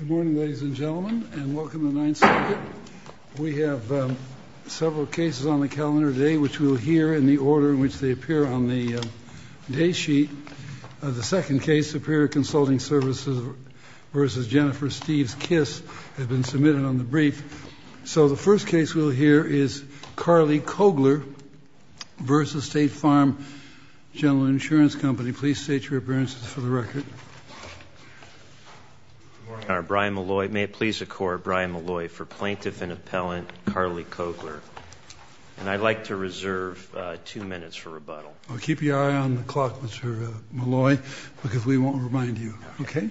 Good morning, ladies and gentlemen, and welcome to the Ninth Circuit. We have several cases on the calendar today, which we'll hear in the order in which they appear on the date sheet. The second case, Superior Consulting Services v. Jennifer Steves Kiss, has been submitted on the brief. So the first case we'll hear is Carly Kogler v. State Farm General Insurance Company. Please state your appearances for the record. Brian Malloy. May it please the Court, Brian Malloy for Plaintiff and Appellant Carly Kogler. And I'd like to reserve two minutes for rebuttal. Keep your eye on the clock, Mr. Malloy, because we won't remind you. Okay?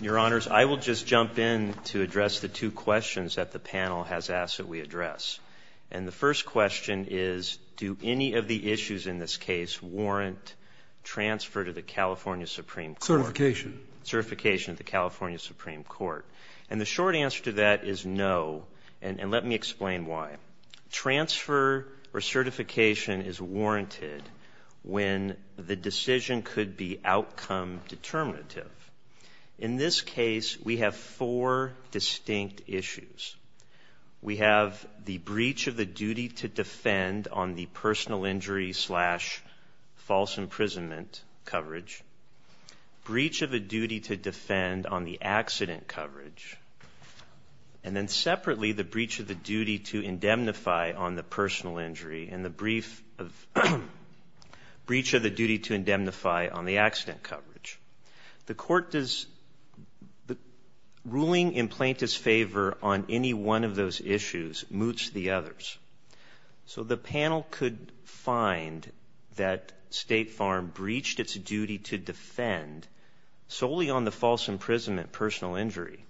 Your Honors, I will just jump in to address the two questions that the panel has asked that we address. And the first question is, do any of the issues in this case warrant transfer to the California Supreme Court? Certification. Certification of the California Supreme Court. And the short answer to that is no, and let me explain why. Transfer or certification is warranted when the decision could be outcome determinative. In this case, we have four distinct issues. We have the breach of the duty to defend on the personal injury slash false imprisonment coverage, breach of a duty to defend on the accident coverage, and then separately the breach of the duty to indemnify on the personal injury and the breach of the duty to indemnify on the accident coverage. The ruling in Plaintiff's favor on any one of those issues moots the others. So the panel could find that State Farm breached its duty to defend solely on the false imprisonment personal injury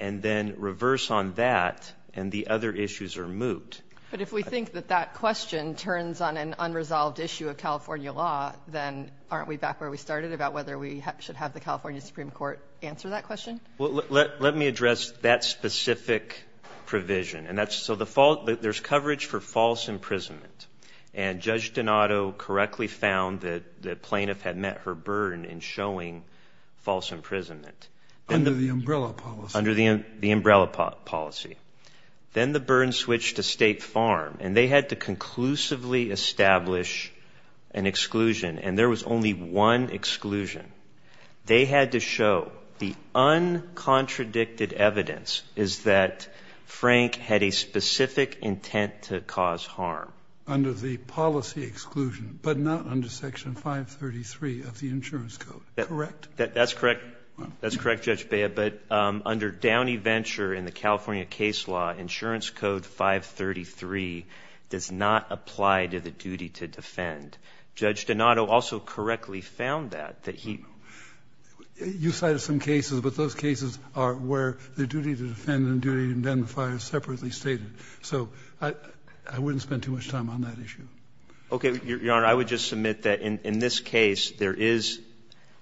and then reverse on that and the other issues are moot. But if we think that that question turns on an unresolved issue of California law, then aren't we back where we started about whether we should have the California Supreme Court answer that question? Well, let me address that specific provision. So there's coverage for false imprisonment, and Judge Donato correctly found that the plaintiff had met her burden in showing false imprisonment. Under the umbrella policy. Under the umbrella policy. Then the burden switched to State Farm, and they had to conclusively establish an exclusion, and there was only one exclusion. They had to show the uncontradicted evidence is that Frank had a specific intent to cause harm. Under the policy exclusion, but not under Section 533 of the insurance code, correct? That's correct. That's correct, Judge Bea, but under Downey Venture in the California case law, insurance code 533 does not apply to the duty to defend. Judge Donato also correctly found that, that he. You cited some cases, but those cases are where the duty to defend and the duty to indemnify are separately stated. So I wouldn't spend too much time on that issue. Okay, Your Honor, I would just submit that in this case, there is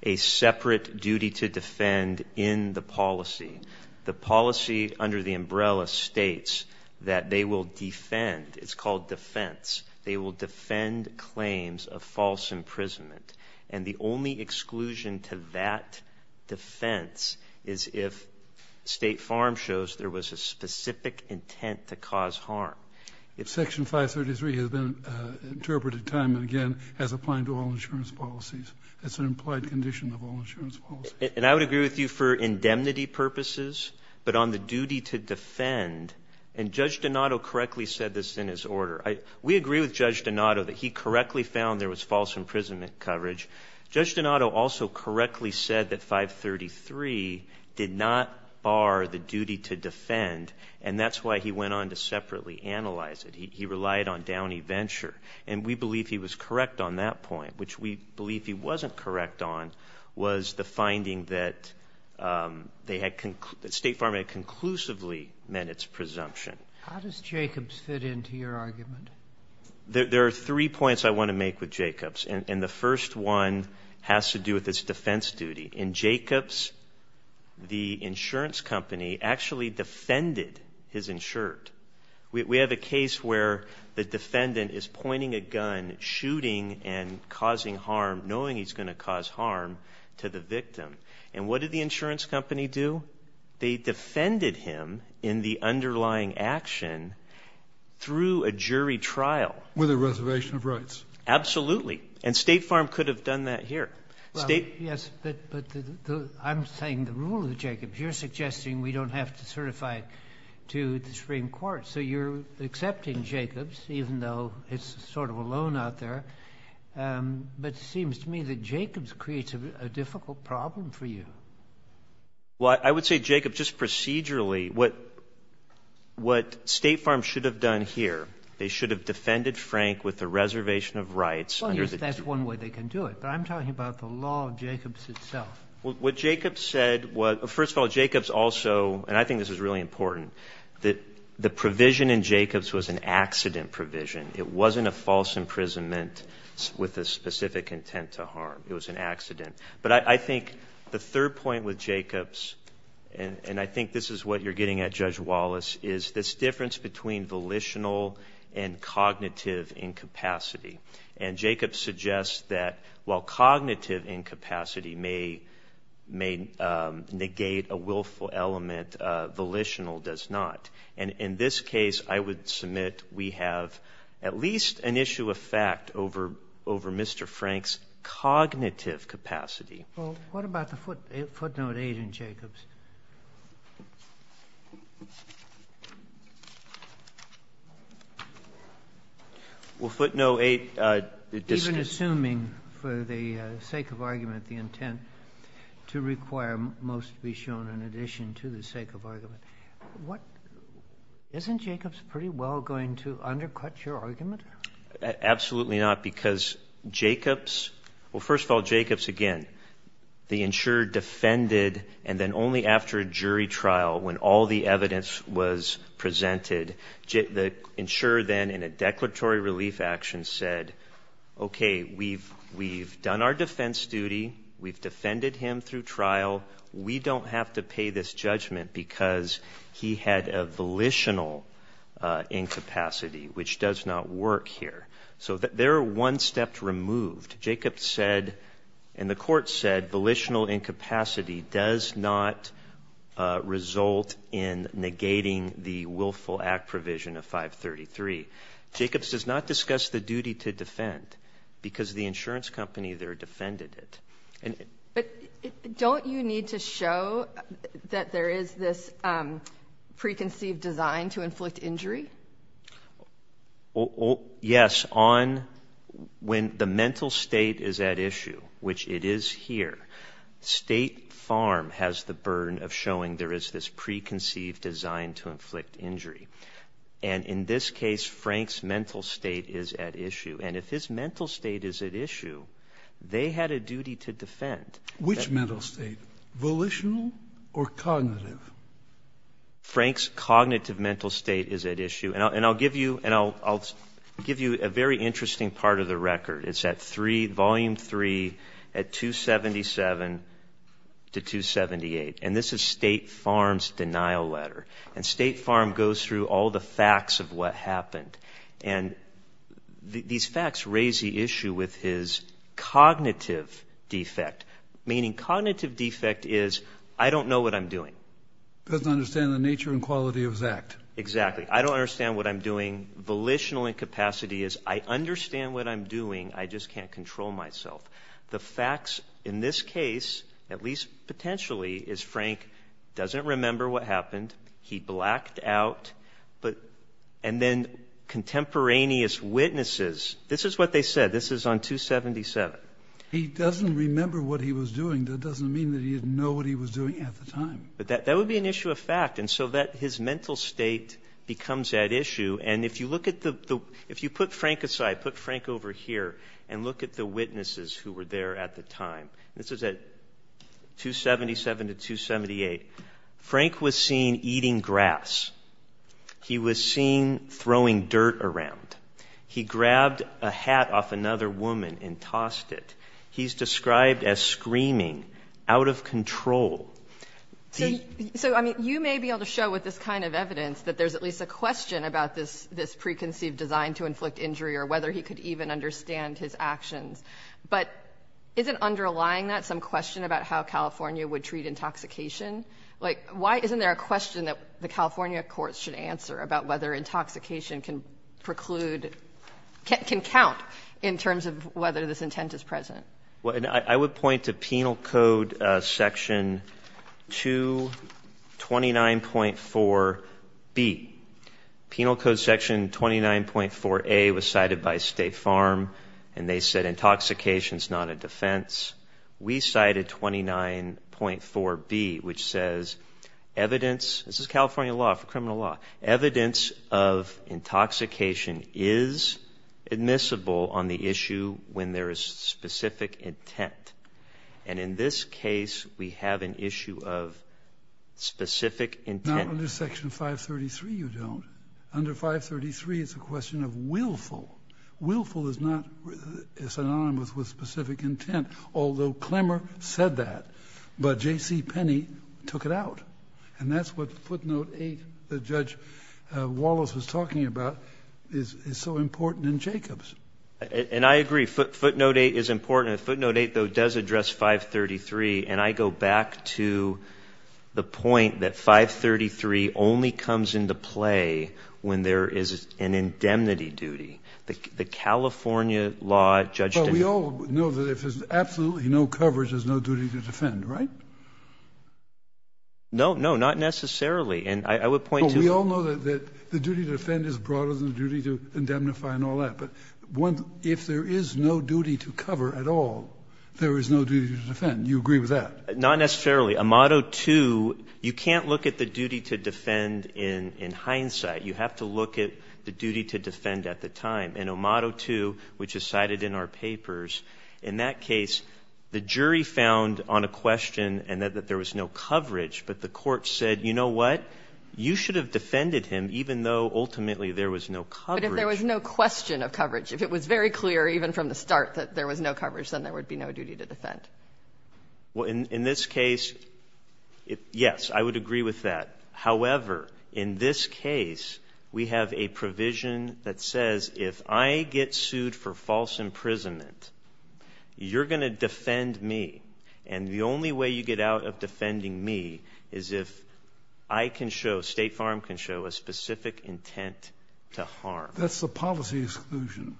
a separate duty to defend in the policy. The policy under the umbrella states that they will defend. It's called defense. They will defend claims of false imprisonment. And the only exclusion to that defense is if State Farm shows there was a specific intent to cause harm. Section 533 has been interpreted time and again as applying to all insurance policies. It's an implied condition of all insurance policies. And I would agree with you for indemnity purposes, but on the duty to defend, and Judge Donato correctly said this in his order. We agree with Judge Donato that he correctly found there was false imprisonment coverage. Judge Donato also correctly said that 533 did not bar the duty to defend, and that's why he went on to separately analyze it. He relied on Downey Venture. And we believe he was correct on that point, which we believe he wasn't correct on, was the finding that State Farm had conclusively meant its presumption. How does Jacobs fit into your argument? There are three points I want to make with Jacobs, and the first one has to do with its defense duty. In Jacobs, the insurance company actually defended his insured. We have a case where the defendant is pointing a gun, shooting, and causing harm knowing he's going to cause harm to the victim. And what did the insurance company do? They defended him in the underlying action through a jury trial. With a reservation of rights. Absolutely. And State Farm could have done that here. Yes, but I'm saying the rule of the Jacobs. You're suggesting we don't have to certify it to the Supreme Court. So you're accepting Jacobs, even though it's sort of alone out there. But it seems to me that Jacobs creates a difficult problem for you. Well, I would say, Jacob, just procedurally, what State Farm should have done here, they should have defended Frank with a reservation of rights. Well, yes, that's one way they can do it. But I'm talking about the law of Jacobs itself. Well, what Jacobs said was, first of all, Jacobs also, and I think this is really important, that the provision in Jacobs was an accident provision. It wasn't a false imprisonment with a specific intent to harm. It was an accident. But I think the third point with Jacobs, and I think this is what you're getting at, Judge Wallace, is this difference between volitional and cognitive incapacity. And Jacobs suggests that while cognitive incapacity may negate a willful element, volitional does not. And in this case, I would submit we have at least an issue of fact over Mr. Frank's cognitive capacity. Well, what about the footnote 8 in Jacobs? Well, footnote 8. Even assuming, for the sake of argument, the intent to require most be shown in addition to the sake of argument, isn't Jacobs pretty well going to undercut your argument? Absolutely not, because Jacobs, well, first of all, Jacobs, again, the insurer defended, and then only after a jury trial when all the evidence was presented, the insurer then in a declaratory relief action said, okay, we've done our defense duty. We've defended him through trial. We don't have to pay this judgment because he had a volitional incapacity, which does not work here. So they're one step removed. Jacobs said, and the court said, volitional incapacity does not result in negating the willful act provision of 533. Jacobs does not discuss the duty to defend because the insurance company there defended it. But don't you need to show that there is this preconceived design to inflict injury? Yes. When the mental state is at issue, which it is here, State Farm has the burden of showing there is this preconceived design to inflict injury. And in this case, Frank's mental state is at issue. And if his mental state is at issue, they had a duty to defend. Which mental state? Volitional or cognitive? Frank's cognitive mental state is at issue. And I'll give you a very interesting part of the record. It's at 3, Volume 3, at 277 to 278. And this is State Farm's denial letter. And State Farm goes through all the facts of what happened. And these facts raise the issue with his cognitive defect. Meaning cognitive defect is I don't know what I'm doing. Doesn't understand the nature and quality of his act. Exactly. I don't understand what I'm doing. Volitional incapacity is I understand what I'm doing. I just can't control myself. The facts in this case, at least potentially, is Frank doesn't remember what happened. He blacked out. And then contemporaneous witnesses. This is what they said. This is on 277. He doesn't remember what he was doing. That doesn't mean that he didn't know what he was doing at the time. That would be an issue of fact. And so his mental state becomes at issue. And if you put Frank aside, put Frank over here, and look at the witnesses who were there at the time. This is at 277 to 278. Frank was seen eating grass. He was seen throwing dirt around. He grabbed a hat off another woman and tossed it. He's described as screaming, out of control. So, I mean, you may be able to show with this kind of evidence that there's at least a question about this preconceived design to inflict injury or whether he could even understand his actions. But isn't underlying that some question about how California would treat intoxication? Like, why isn't there a question that the California courts should answer about whether intoxication can preclude, can count in terms of whether this intent is present? I would point to Penal Code section 229.4B. Penal Code section 29.4A was cited by State Farm. And they said intoxication is not a defense. We cited 29.4B, which says evidence, this is California law, criminal law, evidence of intoxication is admissible on the issue when there is specific intent. And in this case, we have an issue of specific intent. Now, under section 533, you don't. Under 533, it's a question of willful. Willful is not synonymous with specific intent, although Clemmer said that. But J.C. Penney took it out. And that's what footnote 8 that Judge Wallace was talking about is so important in Jacobs. And I agree. Footnote 8 is important. Footnote 8, though, does address 533. And I go back to the point that 533 only comes into play when there is an indemnity duty. The California law, Judge DeMille. Kennedy. But we all know that if there's absolutely no coverage, there's no duty to defend, right? No, no, not necessarily. And I would point to the duty to defend is broader than the duty to indemnify and all that. But if there is no duty to cover at all, there is no duty to defend. And you agree with that? Not necessarily. Amado 2, you can't look at the duty to defend in hindsight. You have to look at the duty to defend at the time. In Amado 2, which is cited in our papers, in that case, the jury found on a question and that there was no coverage, but the court said, you know what, you should have defended him even though ultimately there was no coverage. But if there was no question of coverage, if it was very clear even from the start that there was no coverage, then there would be no duty to defend. Well, in this case, yes, I would agree with that. However, in this case, we have a provision that says if I get sued for false imprisonment, you're going to defend me. And the only way you get out of defending me is if I can show, State Farm can show, a specific intent to harm. That's the policy exclusion.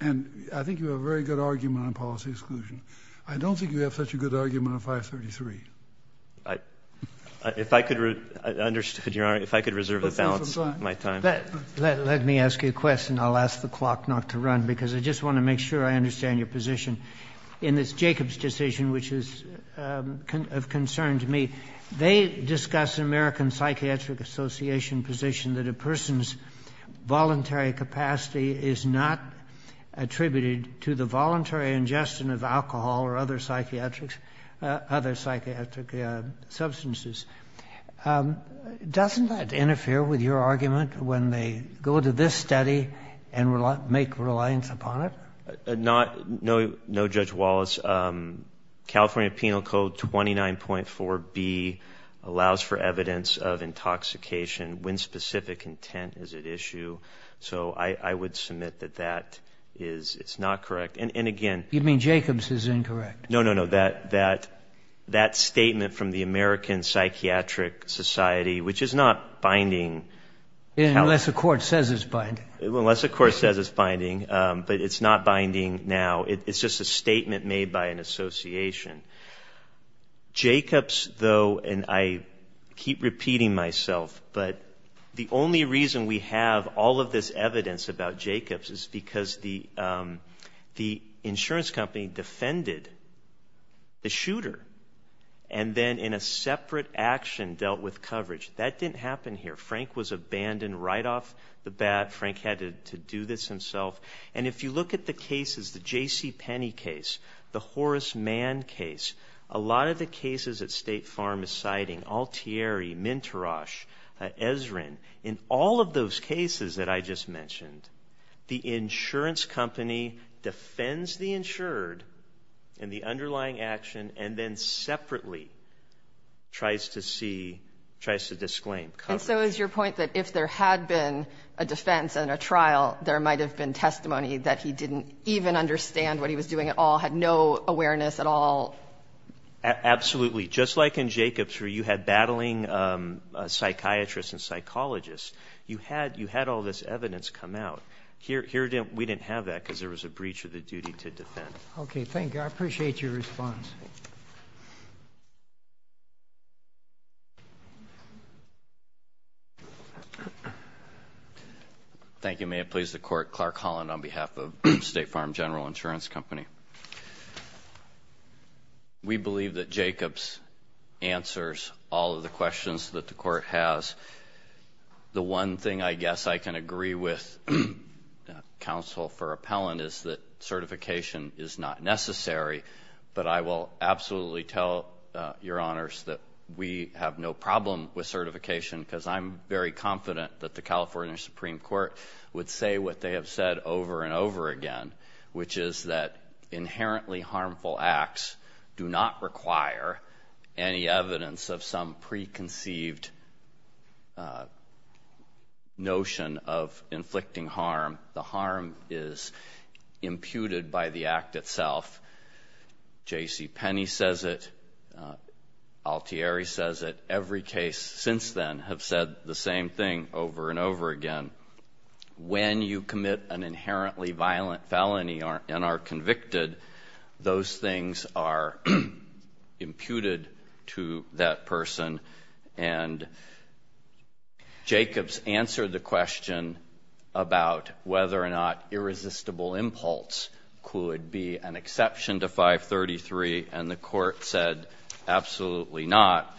And I think you have a very good argument on policy exclusion. I don't think you have such a good argument on 533. If I could reserve the balance of my time. Let me ask you a question. I'll ask the clock not to run because I just want to make sure I understand your position. In this Jacobs decision, which is of concern to me, they discuss an American attributed to the voluntary ingestion of alcohol or other psychiatric substances. Doesn't that interfere with your argument when they go to this study and make reliance upon it? No, Judge Wallace. California Penal Code 29.4B allows for evidence of intoxication when specific intent is at issue. So I would submit that that is not correct. And, again. You mean Jacobs is incorrect? No, no, no. That statement from the American Psychiatric Society, which is not binding. Unless the court says it's binding. Unless the court says it's binding. But it's not binding now. It's just a statement made by an association. Jacobs, though, and I keep repeating myself, but the only reason we have all of this evidence about Jacobs is because the insurance company defended the shooter. And then in a separate action dealt with coverage. That didn't happen here. Frank was abandoned right off the bat. Frank had to do this himself. And if you look at the cases, the J.C. Penney case, the Horace Mann case, a lot of the cases that State Farm is citing, Altieri, Minterosch, Ezrin, in all of those cases that I just mentioned, the insurance company defends the insured in the underlying action and then separately tries to disclaim coverage. And so is your point that if there had been a defense and a trial, there might have been testimony that he didn't even understand what he was doing at all, had no awareness at all? Absolutely. Just like in Jacobs where you had battling psychiatrists and psychologists, you had all this evidence come out. Here we didn't have that because there was a breach of the duty to defend. Okay. Thank you. I appreciate your response. Thank you. May it please the Court. Clark Holland on behalf of State Farm General Insurance Company. We believe that Jacobs answers all of the questions that the Court has. The one thing I guess I can agree with counsel for appellant is that certification is not necessary, but I will agree with that. I will absolutely tell your honors that we have no problem with certification because I'm very confident that the California Supreme Court would say what they have said over and over again, which is that inherently harmful acts do not require any evidence of some preconceived notion of inflicting harm. The harm is imputed by the act itself. J.C. Penney says it. Altieri says it. Every case since then have said the same thing over and over again. When you commit an inherently violent felony and are convicted, those things are imputed to that person, and Jacobs answered the question about whether or not irresistible impulse could be an exception to 533, and the Court said absolutely not.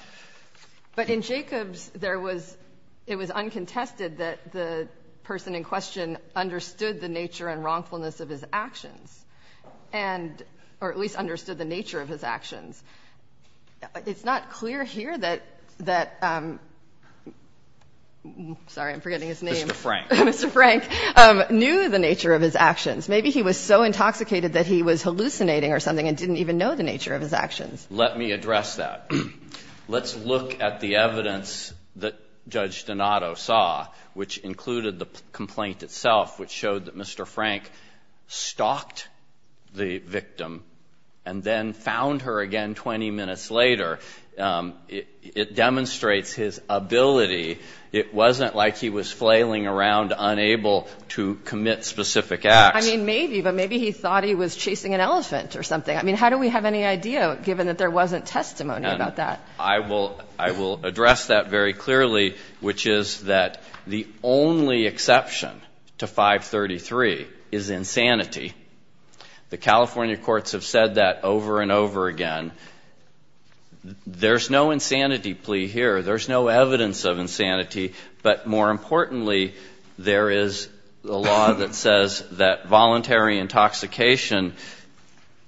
But in Jacobs, there was — it was uncontested that the person in question understood the nature and wrongfulness of his actions and — or at least understood the nature of his actions. It's not clear here that — sorry, I'm forgetting his name. Mr. Frank. Mr. Frank knew the nature of his actions. Maybe he was so intoxicated that he was hallucinating or something and didn't even know the nature of his actions. Let me address that. Let's look at the evidence that Judge Donato saw, which included the complaint itself, which showed that Mr. Frank stalked the victim and then found her again 20 minutes later. It demonstrates his ability. It wasn't like he was flailing around, unable to commit specific acts. I mean, maybe, but maybe he thought he was chasing an elephant or something. I mean, how do we have any idea, given that there wasn't testimony about that? I will address that very clearly, which is that the only exception to 533 is insanity. The California courts have said that over and over again. There's no insanity plea here. There's no evidence of insanity. But more importantly, there is a law that says that voluntary intoxication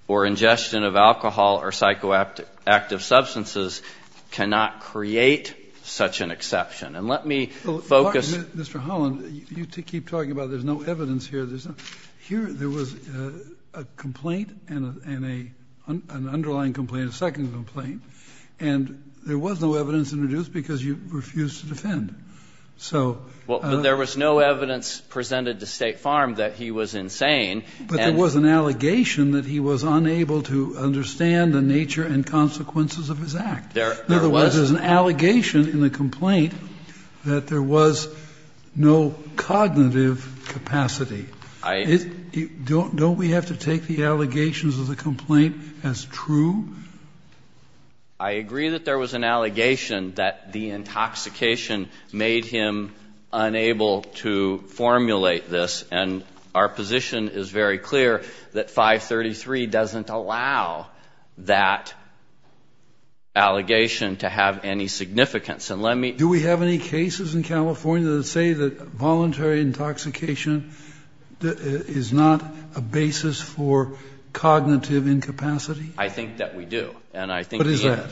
or ingestion of alcohol or psychoactive substances cannot create such an exception. And let me focus. Mr. Holland, you keep talking about there's no evidence here. There was a complaint and an underlying complaint, a second complaint. And there was no evidence introduced because you refused to defend. Well, there was no evidence presented to State Farm that he was insane. But there was an allegation that he was unable to understand the nature and consequences of his act. There was an allegation in the complaint that there was no cognitive capacity. Don't we have to take the allegations of the complaint as true? I agree that there was an allegation that the intoxication made him unable to formulate this. And our position is very clear that 533 doesn't allow that allegation to have any significance. And let me ---- Do we have any cases in California that say that voluntary intoxication is not a basis for cognitive incapacity? I think that we do. And I think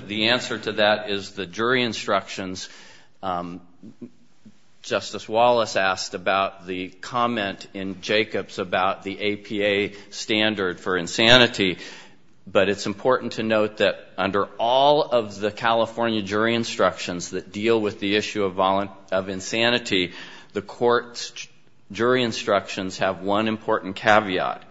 the answer to that is the jury instructions. Justice Wallace asked about the comment in Jacobs about the APA standard for insanity. But it's important to note that under all of the California jury instructions that deal with the issue of insanity, the court's jury instructions have one important caveat.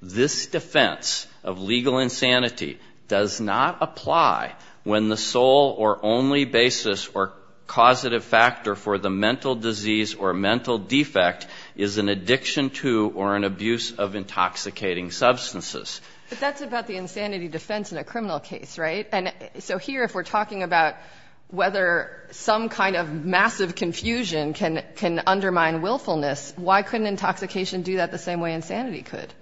This defense of legal insanity does not apply when the sole or only basis or causative factor for the mental disease or mental defect is an addiction to or an abuse of intoxicating substances. But that's about the insanity defense in a criminal case, right? And so here if we're talking about whether some kind of massive confusion can undermine willfulness, why couldn't intoxication do that the same way insanity could?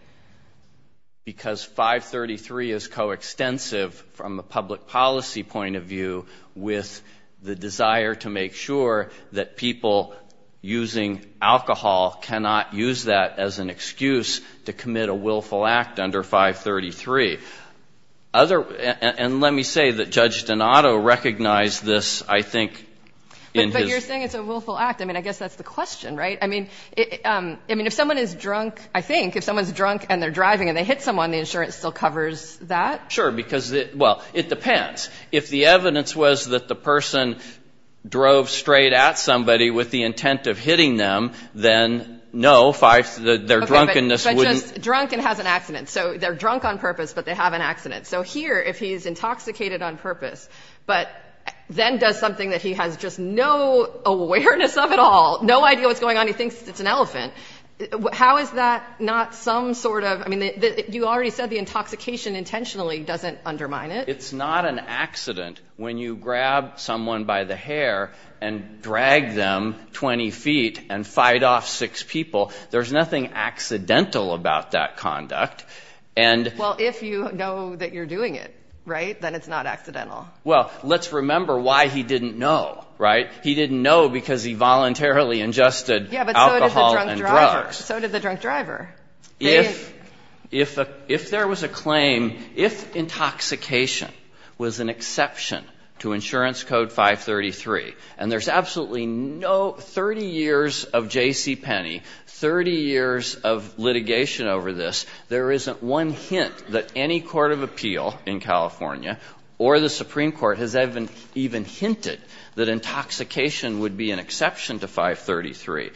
Because 533 is coextensive from a public policy point of view with the desire to make sure that people using alcohol cannot use that as an excuse to commit a willful act under 533. And let me say that Judge Donato recognized this, I think, in his ---- But you're saying it's a willful act. I mean, I guess that's the question, right? I mean, if someone is drunk, I think, if someone's drunk and they're driving and they hit someone, the insurance still covers that? Sure, because, well, it depends. If the evidence was that the person drove straight at somebody with the intent of hitting them, then no, their drunkenness wouldn't ---- Okay, but just drunk and has an accident. So they're drunk on purpose, but they have an accident. So here if he's intoxicated on purpose, but then does something that he has just no awareness of at all, no idea what's going on, he thinks it's an elephant, how is that not some sort of ---- I mean, you already said the intoxication intentionally doesn't undermine it. It's not an accident when you grab someone by the hair and drag them 20 feet and fight off six people. There's nothing accidental about that conduct. And ---- Well, if you know that you're doing it, right, then it's not accidental. Well, let's remember why he didn't know, right? He didn't know because he voluntarily ingested alcohol and drugs. Yeah, but so did the drunk driver. So did the drunk driver. If there was a claim, if intoxication was an exception to Insurance Code 533, and there's absolutely no ---- 30 years of J.C. Penney, 30 years of litigation over this, there isn't one hint that any court of appeal in California or the Supreme Court has even hinted that intoxication would be an exception to 533.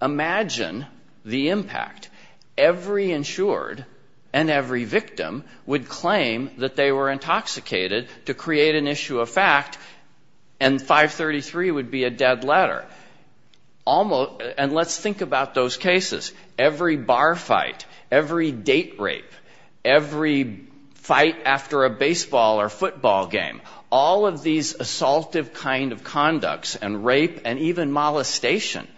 Imagine the impact. Every insured and every victim would claim that they were intoxicated to create an issue of fact, and 533 would be a dead letter. And let's think about those cases. Every bar fight, every date rape, every fight after a baseball or football game, all of these assaultive kind of conducts and rape and even molestation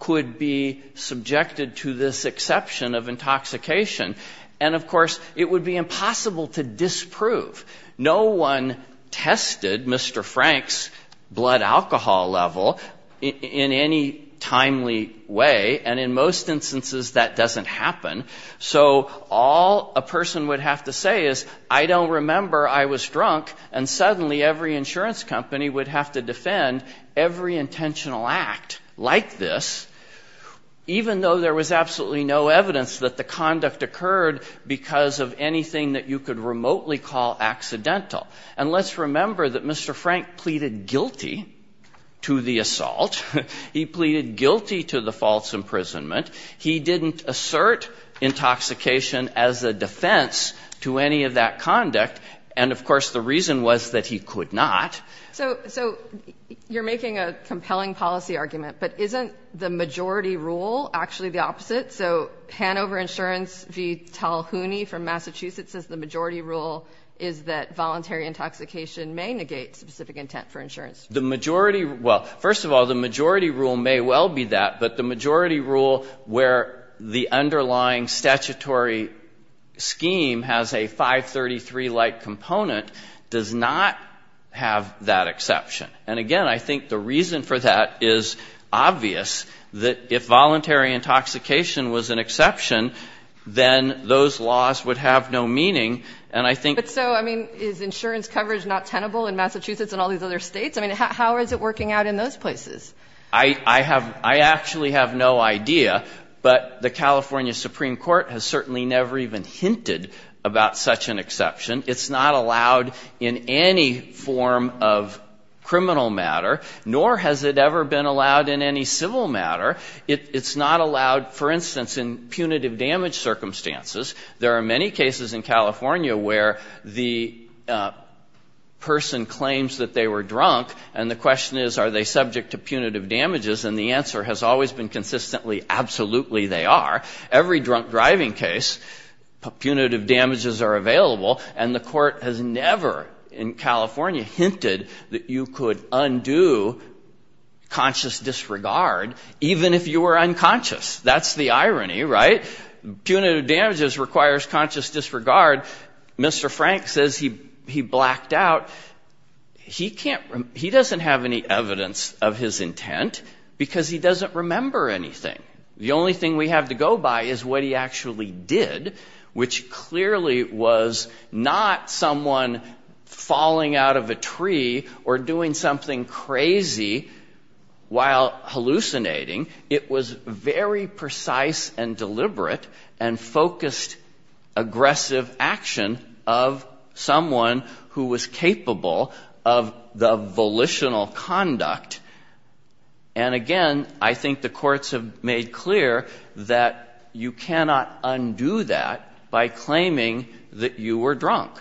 could be subjected to this exception of intoxication. And, of course, it would be impossible to disprove. No one tested Mr. Frank's blood alcohol level in any timely way, and in most instances that doesn't happen. So all a person would have to say is, I don't remember I was drunk, and suddenly every insurance company would have to defend every intentional act like this, even though there was absolutely no evidence that the conduct occurred because of anything that you could remotely call accidental. And let's remember that Mr. Frank pleaded guilty to the assault. He pleaded guilty to the false imprisonment. He didn't assert intoxication as a defense to any of that conduct. And, of course, the reason was that he could not. So you're making a compelling policy argument, but isn't the majority rule actually the opposite? So Hanover Insurance v. Talhouni from Massachusetts says the majority rule is that voluntary intoxication may negate specific intent for insurance. The majority rule — well, first of all, the majority rule may well be that, but the majority rule where the underlying statutory scheme has a 533-like component does not have that exception. And, again, I think the reason for that is obvious, that if voluntary intoxication was an exception, then those laws would have no meaning. And I think — But so, I mean, is insurance coverage not tenable in Massachusetts and all these other States? I mean, how is it working out in those places? I have — I actually have no idea. But the California Supreme Court has certainly never even hinted about such an exception. It's not allowed in any form of criminal matter, nor has it ever been allowed in any civil matter. It's not allowed, for instance, in punitive damage circumstances. There are many cases in California where the person claims that they were drunk, and the question is, are they subject to punitive damages? And the answer has always been consistently, absolutely they are. Every drunk driving case, punitive damages are available. And the Court has never in California hinted that you could undo conscious disregard, even if you were unconscious. That's the irony, right? Punitive damages requires conscious disregard. Mr. Frank says he blacked out. He can't — he doesn't have any evidence of his intent because he doesn't remember anything. The only thing we have to go by is what he actually did, which clearly was not someone falling out of a tree or doing something crazy while hallucinating. It was very precise and deliberate and focused, aggressive action of someone who was capable of the volitional conduct. And again, I think the courts have made clear that you cannot undo that by claiming that you were drunk.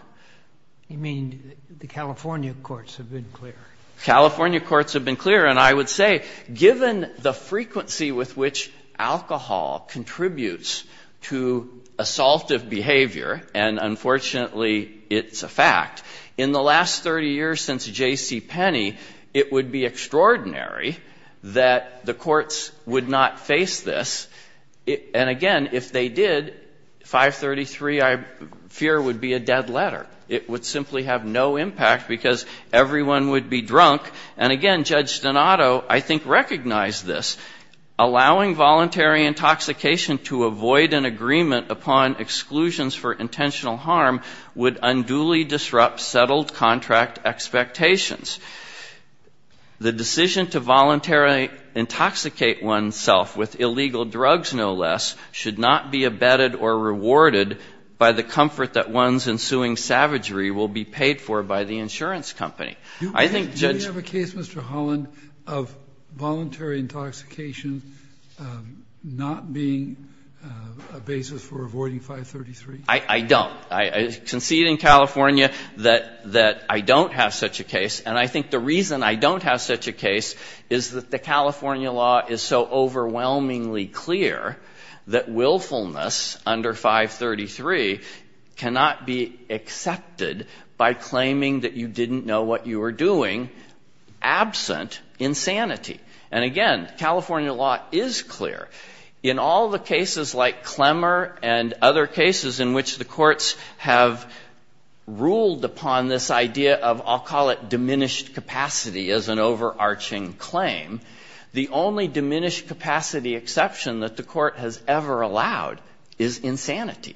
I mean, the California courts have been clear. California courts have been clear. And I would say, given the frequency with which alcohol contributes to assaultive behavior, and unfortunately it's a fact, in the last 30 years since J.C. Penney, it would be extraordinary that the courts would not face this. And again, if they did, 533, I fear, would be a dead letter. It would simply have no impact because everyone would be drunk. And again, Judge Donato, I think, recognized this. Allowing voluntary intoxication to avoid an agreement upon exclusions for intentional harm would unduly disrupt settled contract expectations. The decision to voluntarily intoxicate oneself with illegal drugs, no less, should not be abetted or rewarded by the comfort that one's ensuing savagery will be paid for by the insurance company. I think Judge Roberts, do you have a case, Mr. Holland, of voluntary intoxication not being a basis for avoiding 533? I don't. I concede in California that I don't have such a case. And I think the reason I don't have such a case is that the California law is so overwhelmingly clear that willfulness under 533 cannot be accepted by claiming that you didn't know what you were doing, absent insanity. And again, California law is clear. In all the cases like Clemmer and other cases in which the courts have ruled upon this idea of, I'll call it, diminished capacity as an overarching claim, the only diminished capacity exception that the court has ever allowed is insanity.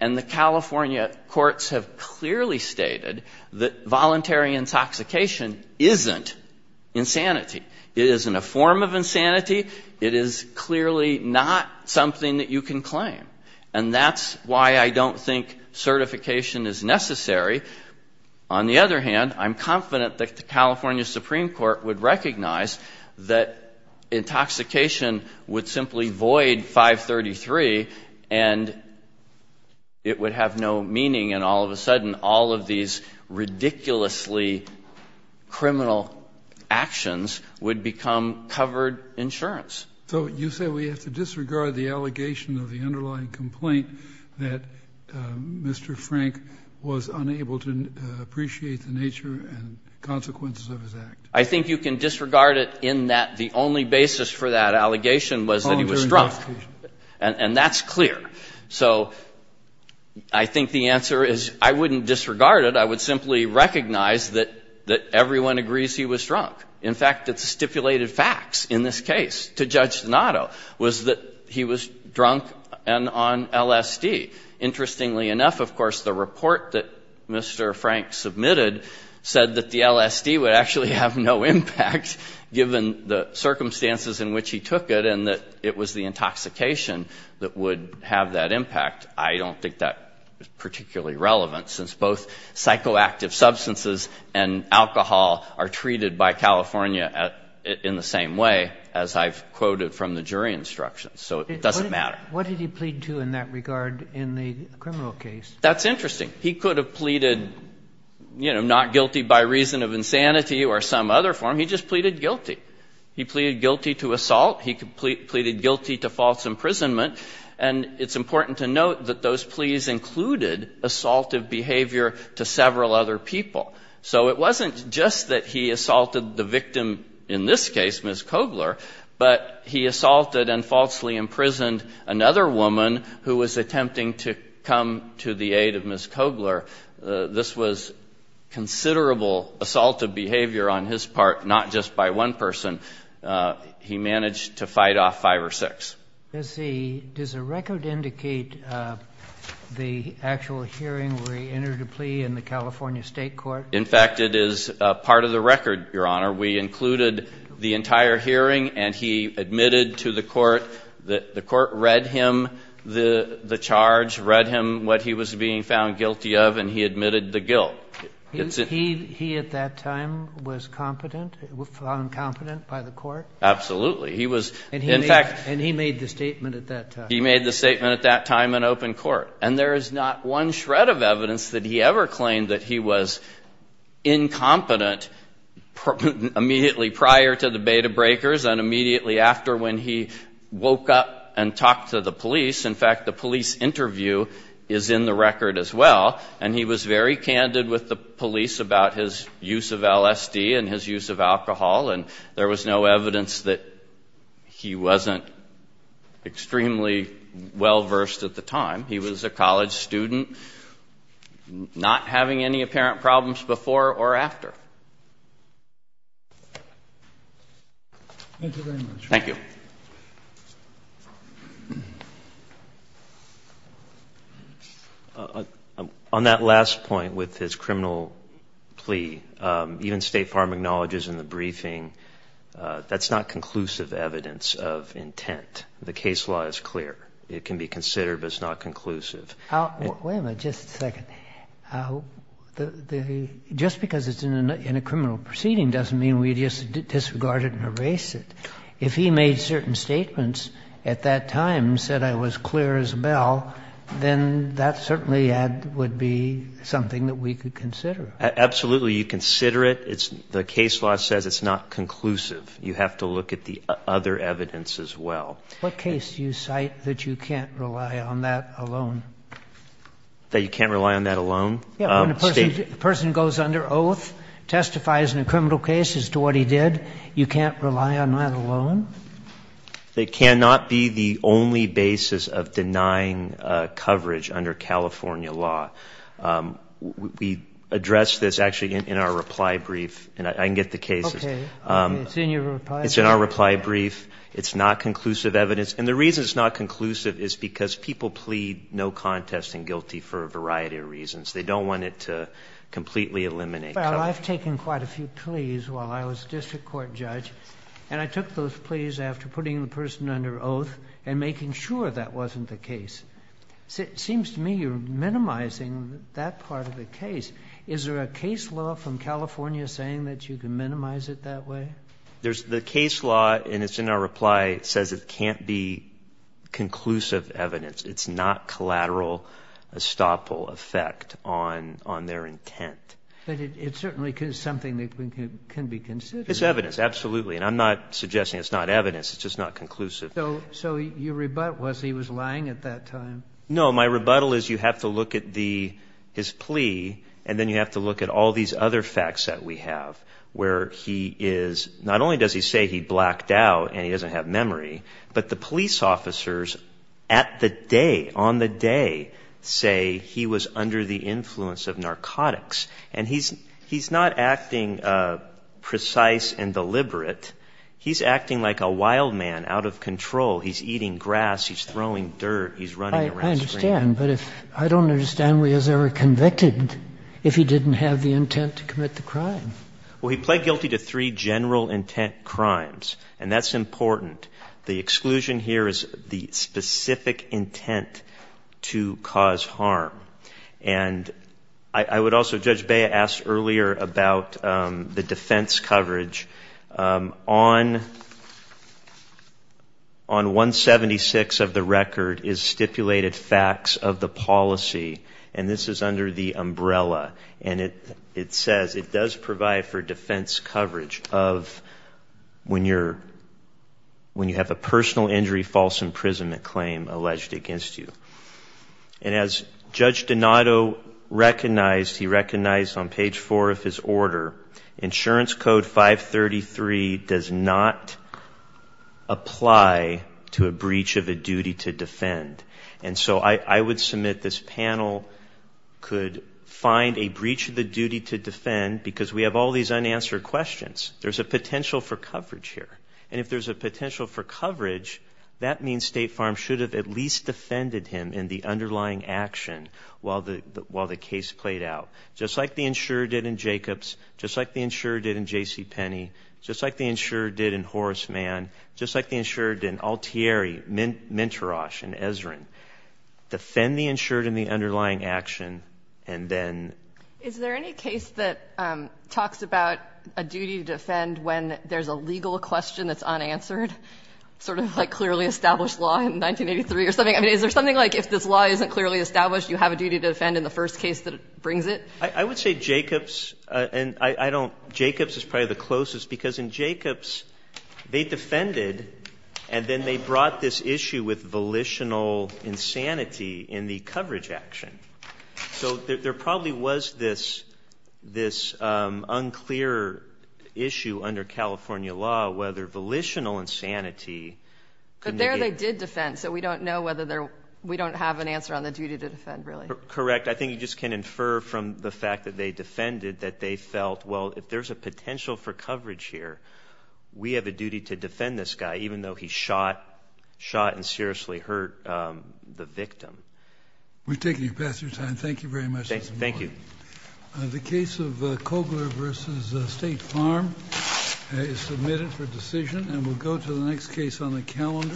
And the California courts have clearly stated that voluntary intoxication isn't insanity. It isn't a form of insanity. It is clearly not something that you can claim. And that's why I don't think certification is necessary. On the other hand, I'm confident that the California Supreme Court would recognize that intoxication would simply void 533 and it would have no meaning and all of a sudden all of these ridiculously criminal actions would become covered insurance. So you say we have to disregard the allegation of the underlying complaint that Mr. Frank was unable to appreciate the nature and consequences of his act? I think you can disregard it in that the only basis for that allegation was that he was drunk. And that's clear. So I think the answer is I wouldn't disregard it. I would simply recognize that everyone agrees he was drunk. In fact, the stipulated facts in this case to Judge Donato was that he was drunk and on LSD. Interestingly enough, of course, the report that Mr. Frank submitted said that the circumstances in which he took it and that it was the intoxication that would have that impact. I don't think that is particularly relevant since both psychoactive substances and alcohol are treated by California in the same way as I've quoted from the jury instructions. So it doesn't matter. What did he plead to in that regard in the criminal case? That's interesting. He could have pleaded, you know, not guilty by reason of insanity or some other form. He just pleaded guilty. He pleaded guilty to assault. He pleaded guilty to false imprisonment. And it's important to note that those pleas included assaultive behavior to several other people. So it wasn't just that he assaulted the victim in this case, Ms. Kogler, but he assaulted and falsely imprisoned another woman who was attempting to come to the aid of Ms. Kogler. This was considerable assaultive behavior on his part, not just by one person. He managed to fight off five or six. Does the record indicate the actual hearing where he entered a plea in the California State Court? In fact, it is part of the record, Your Honor. We included the entire hearing, and he admitted to the Court that the Court read him the charge, read him what he was being found guilty of, and he admitted the guilt. He at that time was competent, found competent by the Court? Absolutely. He was, in fact — And he made the statement at that time. He made the statement at that time in open court. And there is not one shred of evidence that he ever claimed that he was incompetent immediately prior to the beta breakers and immediately after when he woke up and talked to the police. In fact, the police interview is in the record as well. And he was very candid with the police about his use of LSD and his use of alcohol, and there was no evidence that he wasn't extremely well-versed at the time. He was a college student, not having any apparent problems before or after. Thank you very much. Thank you. On that last point with his criminal plea, even State Farm acknowledges in the briefing that's not conclusive evidence of intent. The case law is clear. It can be considered, but it's not conclusive. Wait a minute. Just a second. Just because it's in a criminal proceeding doesn't mean we just disregard it and erase it. If he made certain statements at that time, said I was clear as a bell, then that certainly would be something that we could consider. Absolutely. You consider it. The case law says it's not conclusive. You have to look at the other evidence as well. What case do you cite that you can't rely on that alone? That you can't rely on that alone? Yeah, when a person goes under oath, testifies in a criminal case as to what he did, you can't rely on that alone? It cannot be the only basis of denying coverage under California law. We addressed this actually in our reply brief, and I can get the case. Okay. It's in your reply brief? It's in our reply brief. It's not conclusive evidence. And the reason it's not conclusive is because people plead no contest and guilty for a variety of reasons. They don't want it to completely eliminate coverage. Well, I've taken quite a few pleas while I was a district court judge, and I took those pleas after putting the person under oath and making sure that wasn't the case. It seems to me you're minimizing that part of the case. Is there a case law from California saying that you can minimize it that way? The case law, and it's in our reply, says it can't be conclusive evidence. It's not collateral estoppel effect on their intent. But it certainly is something that can be considered. It's evidence, absolutely. And I'm not suggesting it's not evidence. It's just not conclusive. So your rebuttal was he was lying at that time? No, my rebuttal is you have to look at his plea, and then you have to look at all these other facts that we have where he is, not only does he say he blacked out and he doesn't have memory, but the police officers at the day, on the day, say he was under the influence of narcotics. And he's not acting precise and deliberate. He's acting like a wild man out of control. He's eating grass. He's throwing dirt. He's running around screaming. I understand. But I don't understand why he was ever convicted if he didn't have the intent to commit the crime. Well, he pled guilty to three general intent crimes, and that's important. The exclusion here is the specific intent to cause harm. And I would also, Judge Bea asked earlier about the defense coverage. On 176 of the record is stipulated facts of the policy, and this is under the umbrella. And it says it does provide for defense coverage of when you have a personal injury false imprisonment claim alleged against you. And as Judge Donato recognized, he recognized on page four of his order, insurance code 533 does not apply to a breach of a duty to defend. And so I would submit this panel could find a breach of the duty to defend because we have all these unanswered questions. There's a potential for coverage here. And if there's a potential for coverage, that means State Farm should have at least defended him in the underlying action while the case played out. Just like the insurer did in Jacobs. Just like the insurer did in J.C. Penney. Just like the insurer did in Horace Mann. Just like the insurer did in Altieri, Mintarosh, and Ezrin. Defend the insurer in the underlying action, and then. Is there any case that talks about a duty to defend when there's a legal question that's unanswered? Sort of like clearly established law in 1983 or something. I mean, is there something like if this law isn't clearly established, you have a duty to defend in the first case that brings it? I would say Jacobs, and I don't. Jacobs is probably the closest because in Jacobs, they defended and then they brought this issue with volitional insanity in the coverage action. So there probably was this unclear issue under California law whether volitional insanity could negate. But there they did defend. So we don't know whether we don't have an answer on the duty to defend, really. Correct. I think you just can infer from the fact that they defended that they felt, well, if there's a potential for coverage here, we have a duty to defend this guy, even though he shot, shot and seriously hurt the victim. We've taken your pass through time. Thank you very much. Thank you. The case of Kogler v. State Farm is submitted for decision, and we'll go to the next case on the calendar.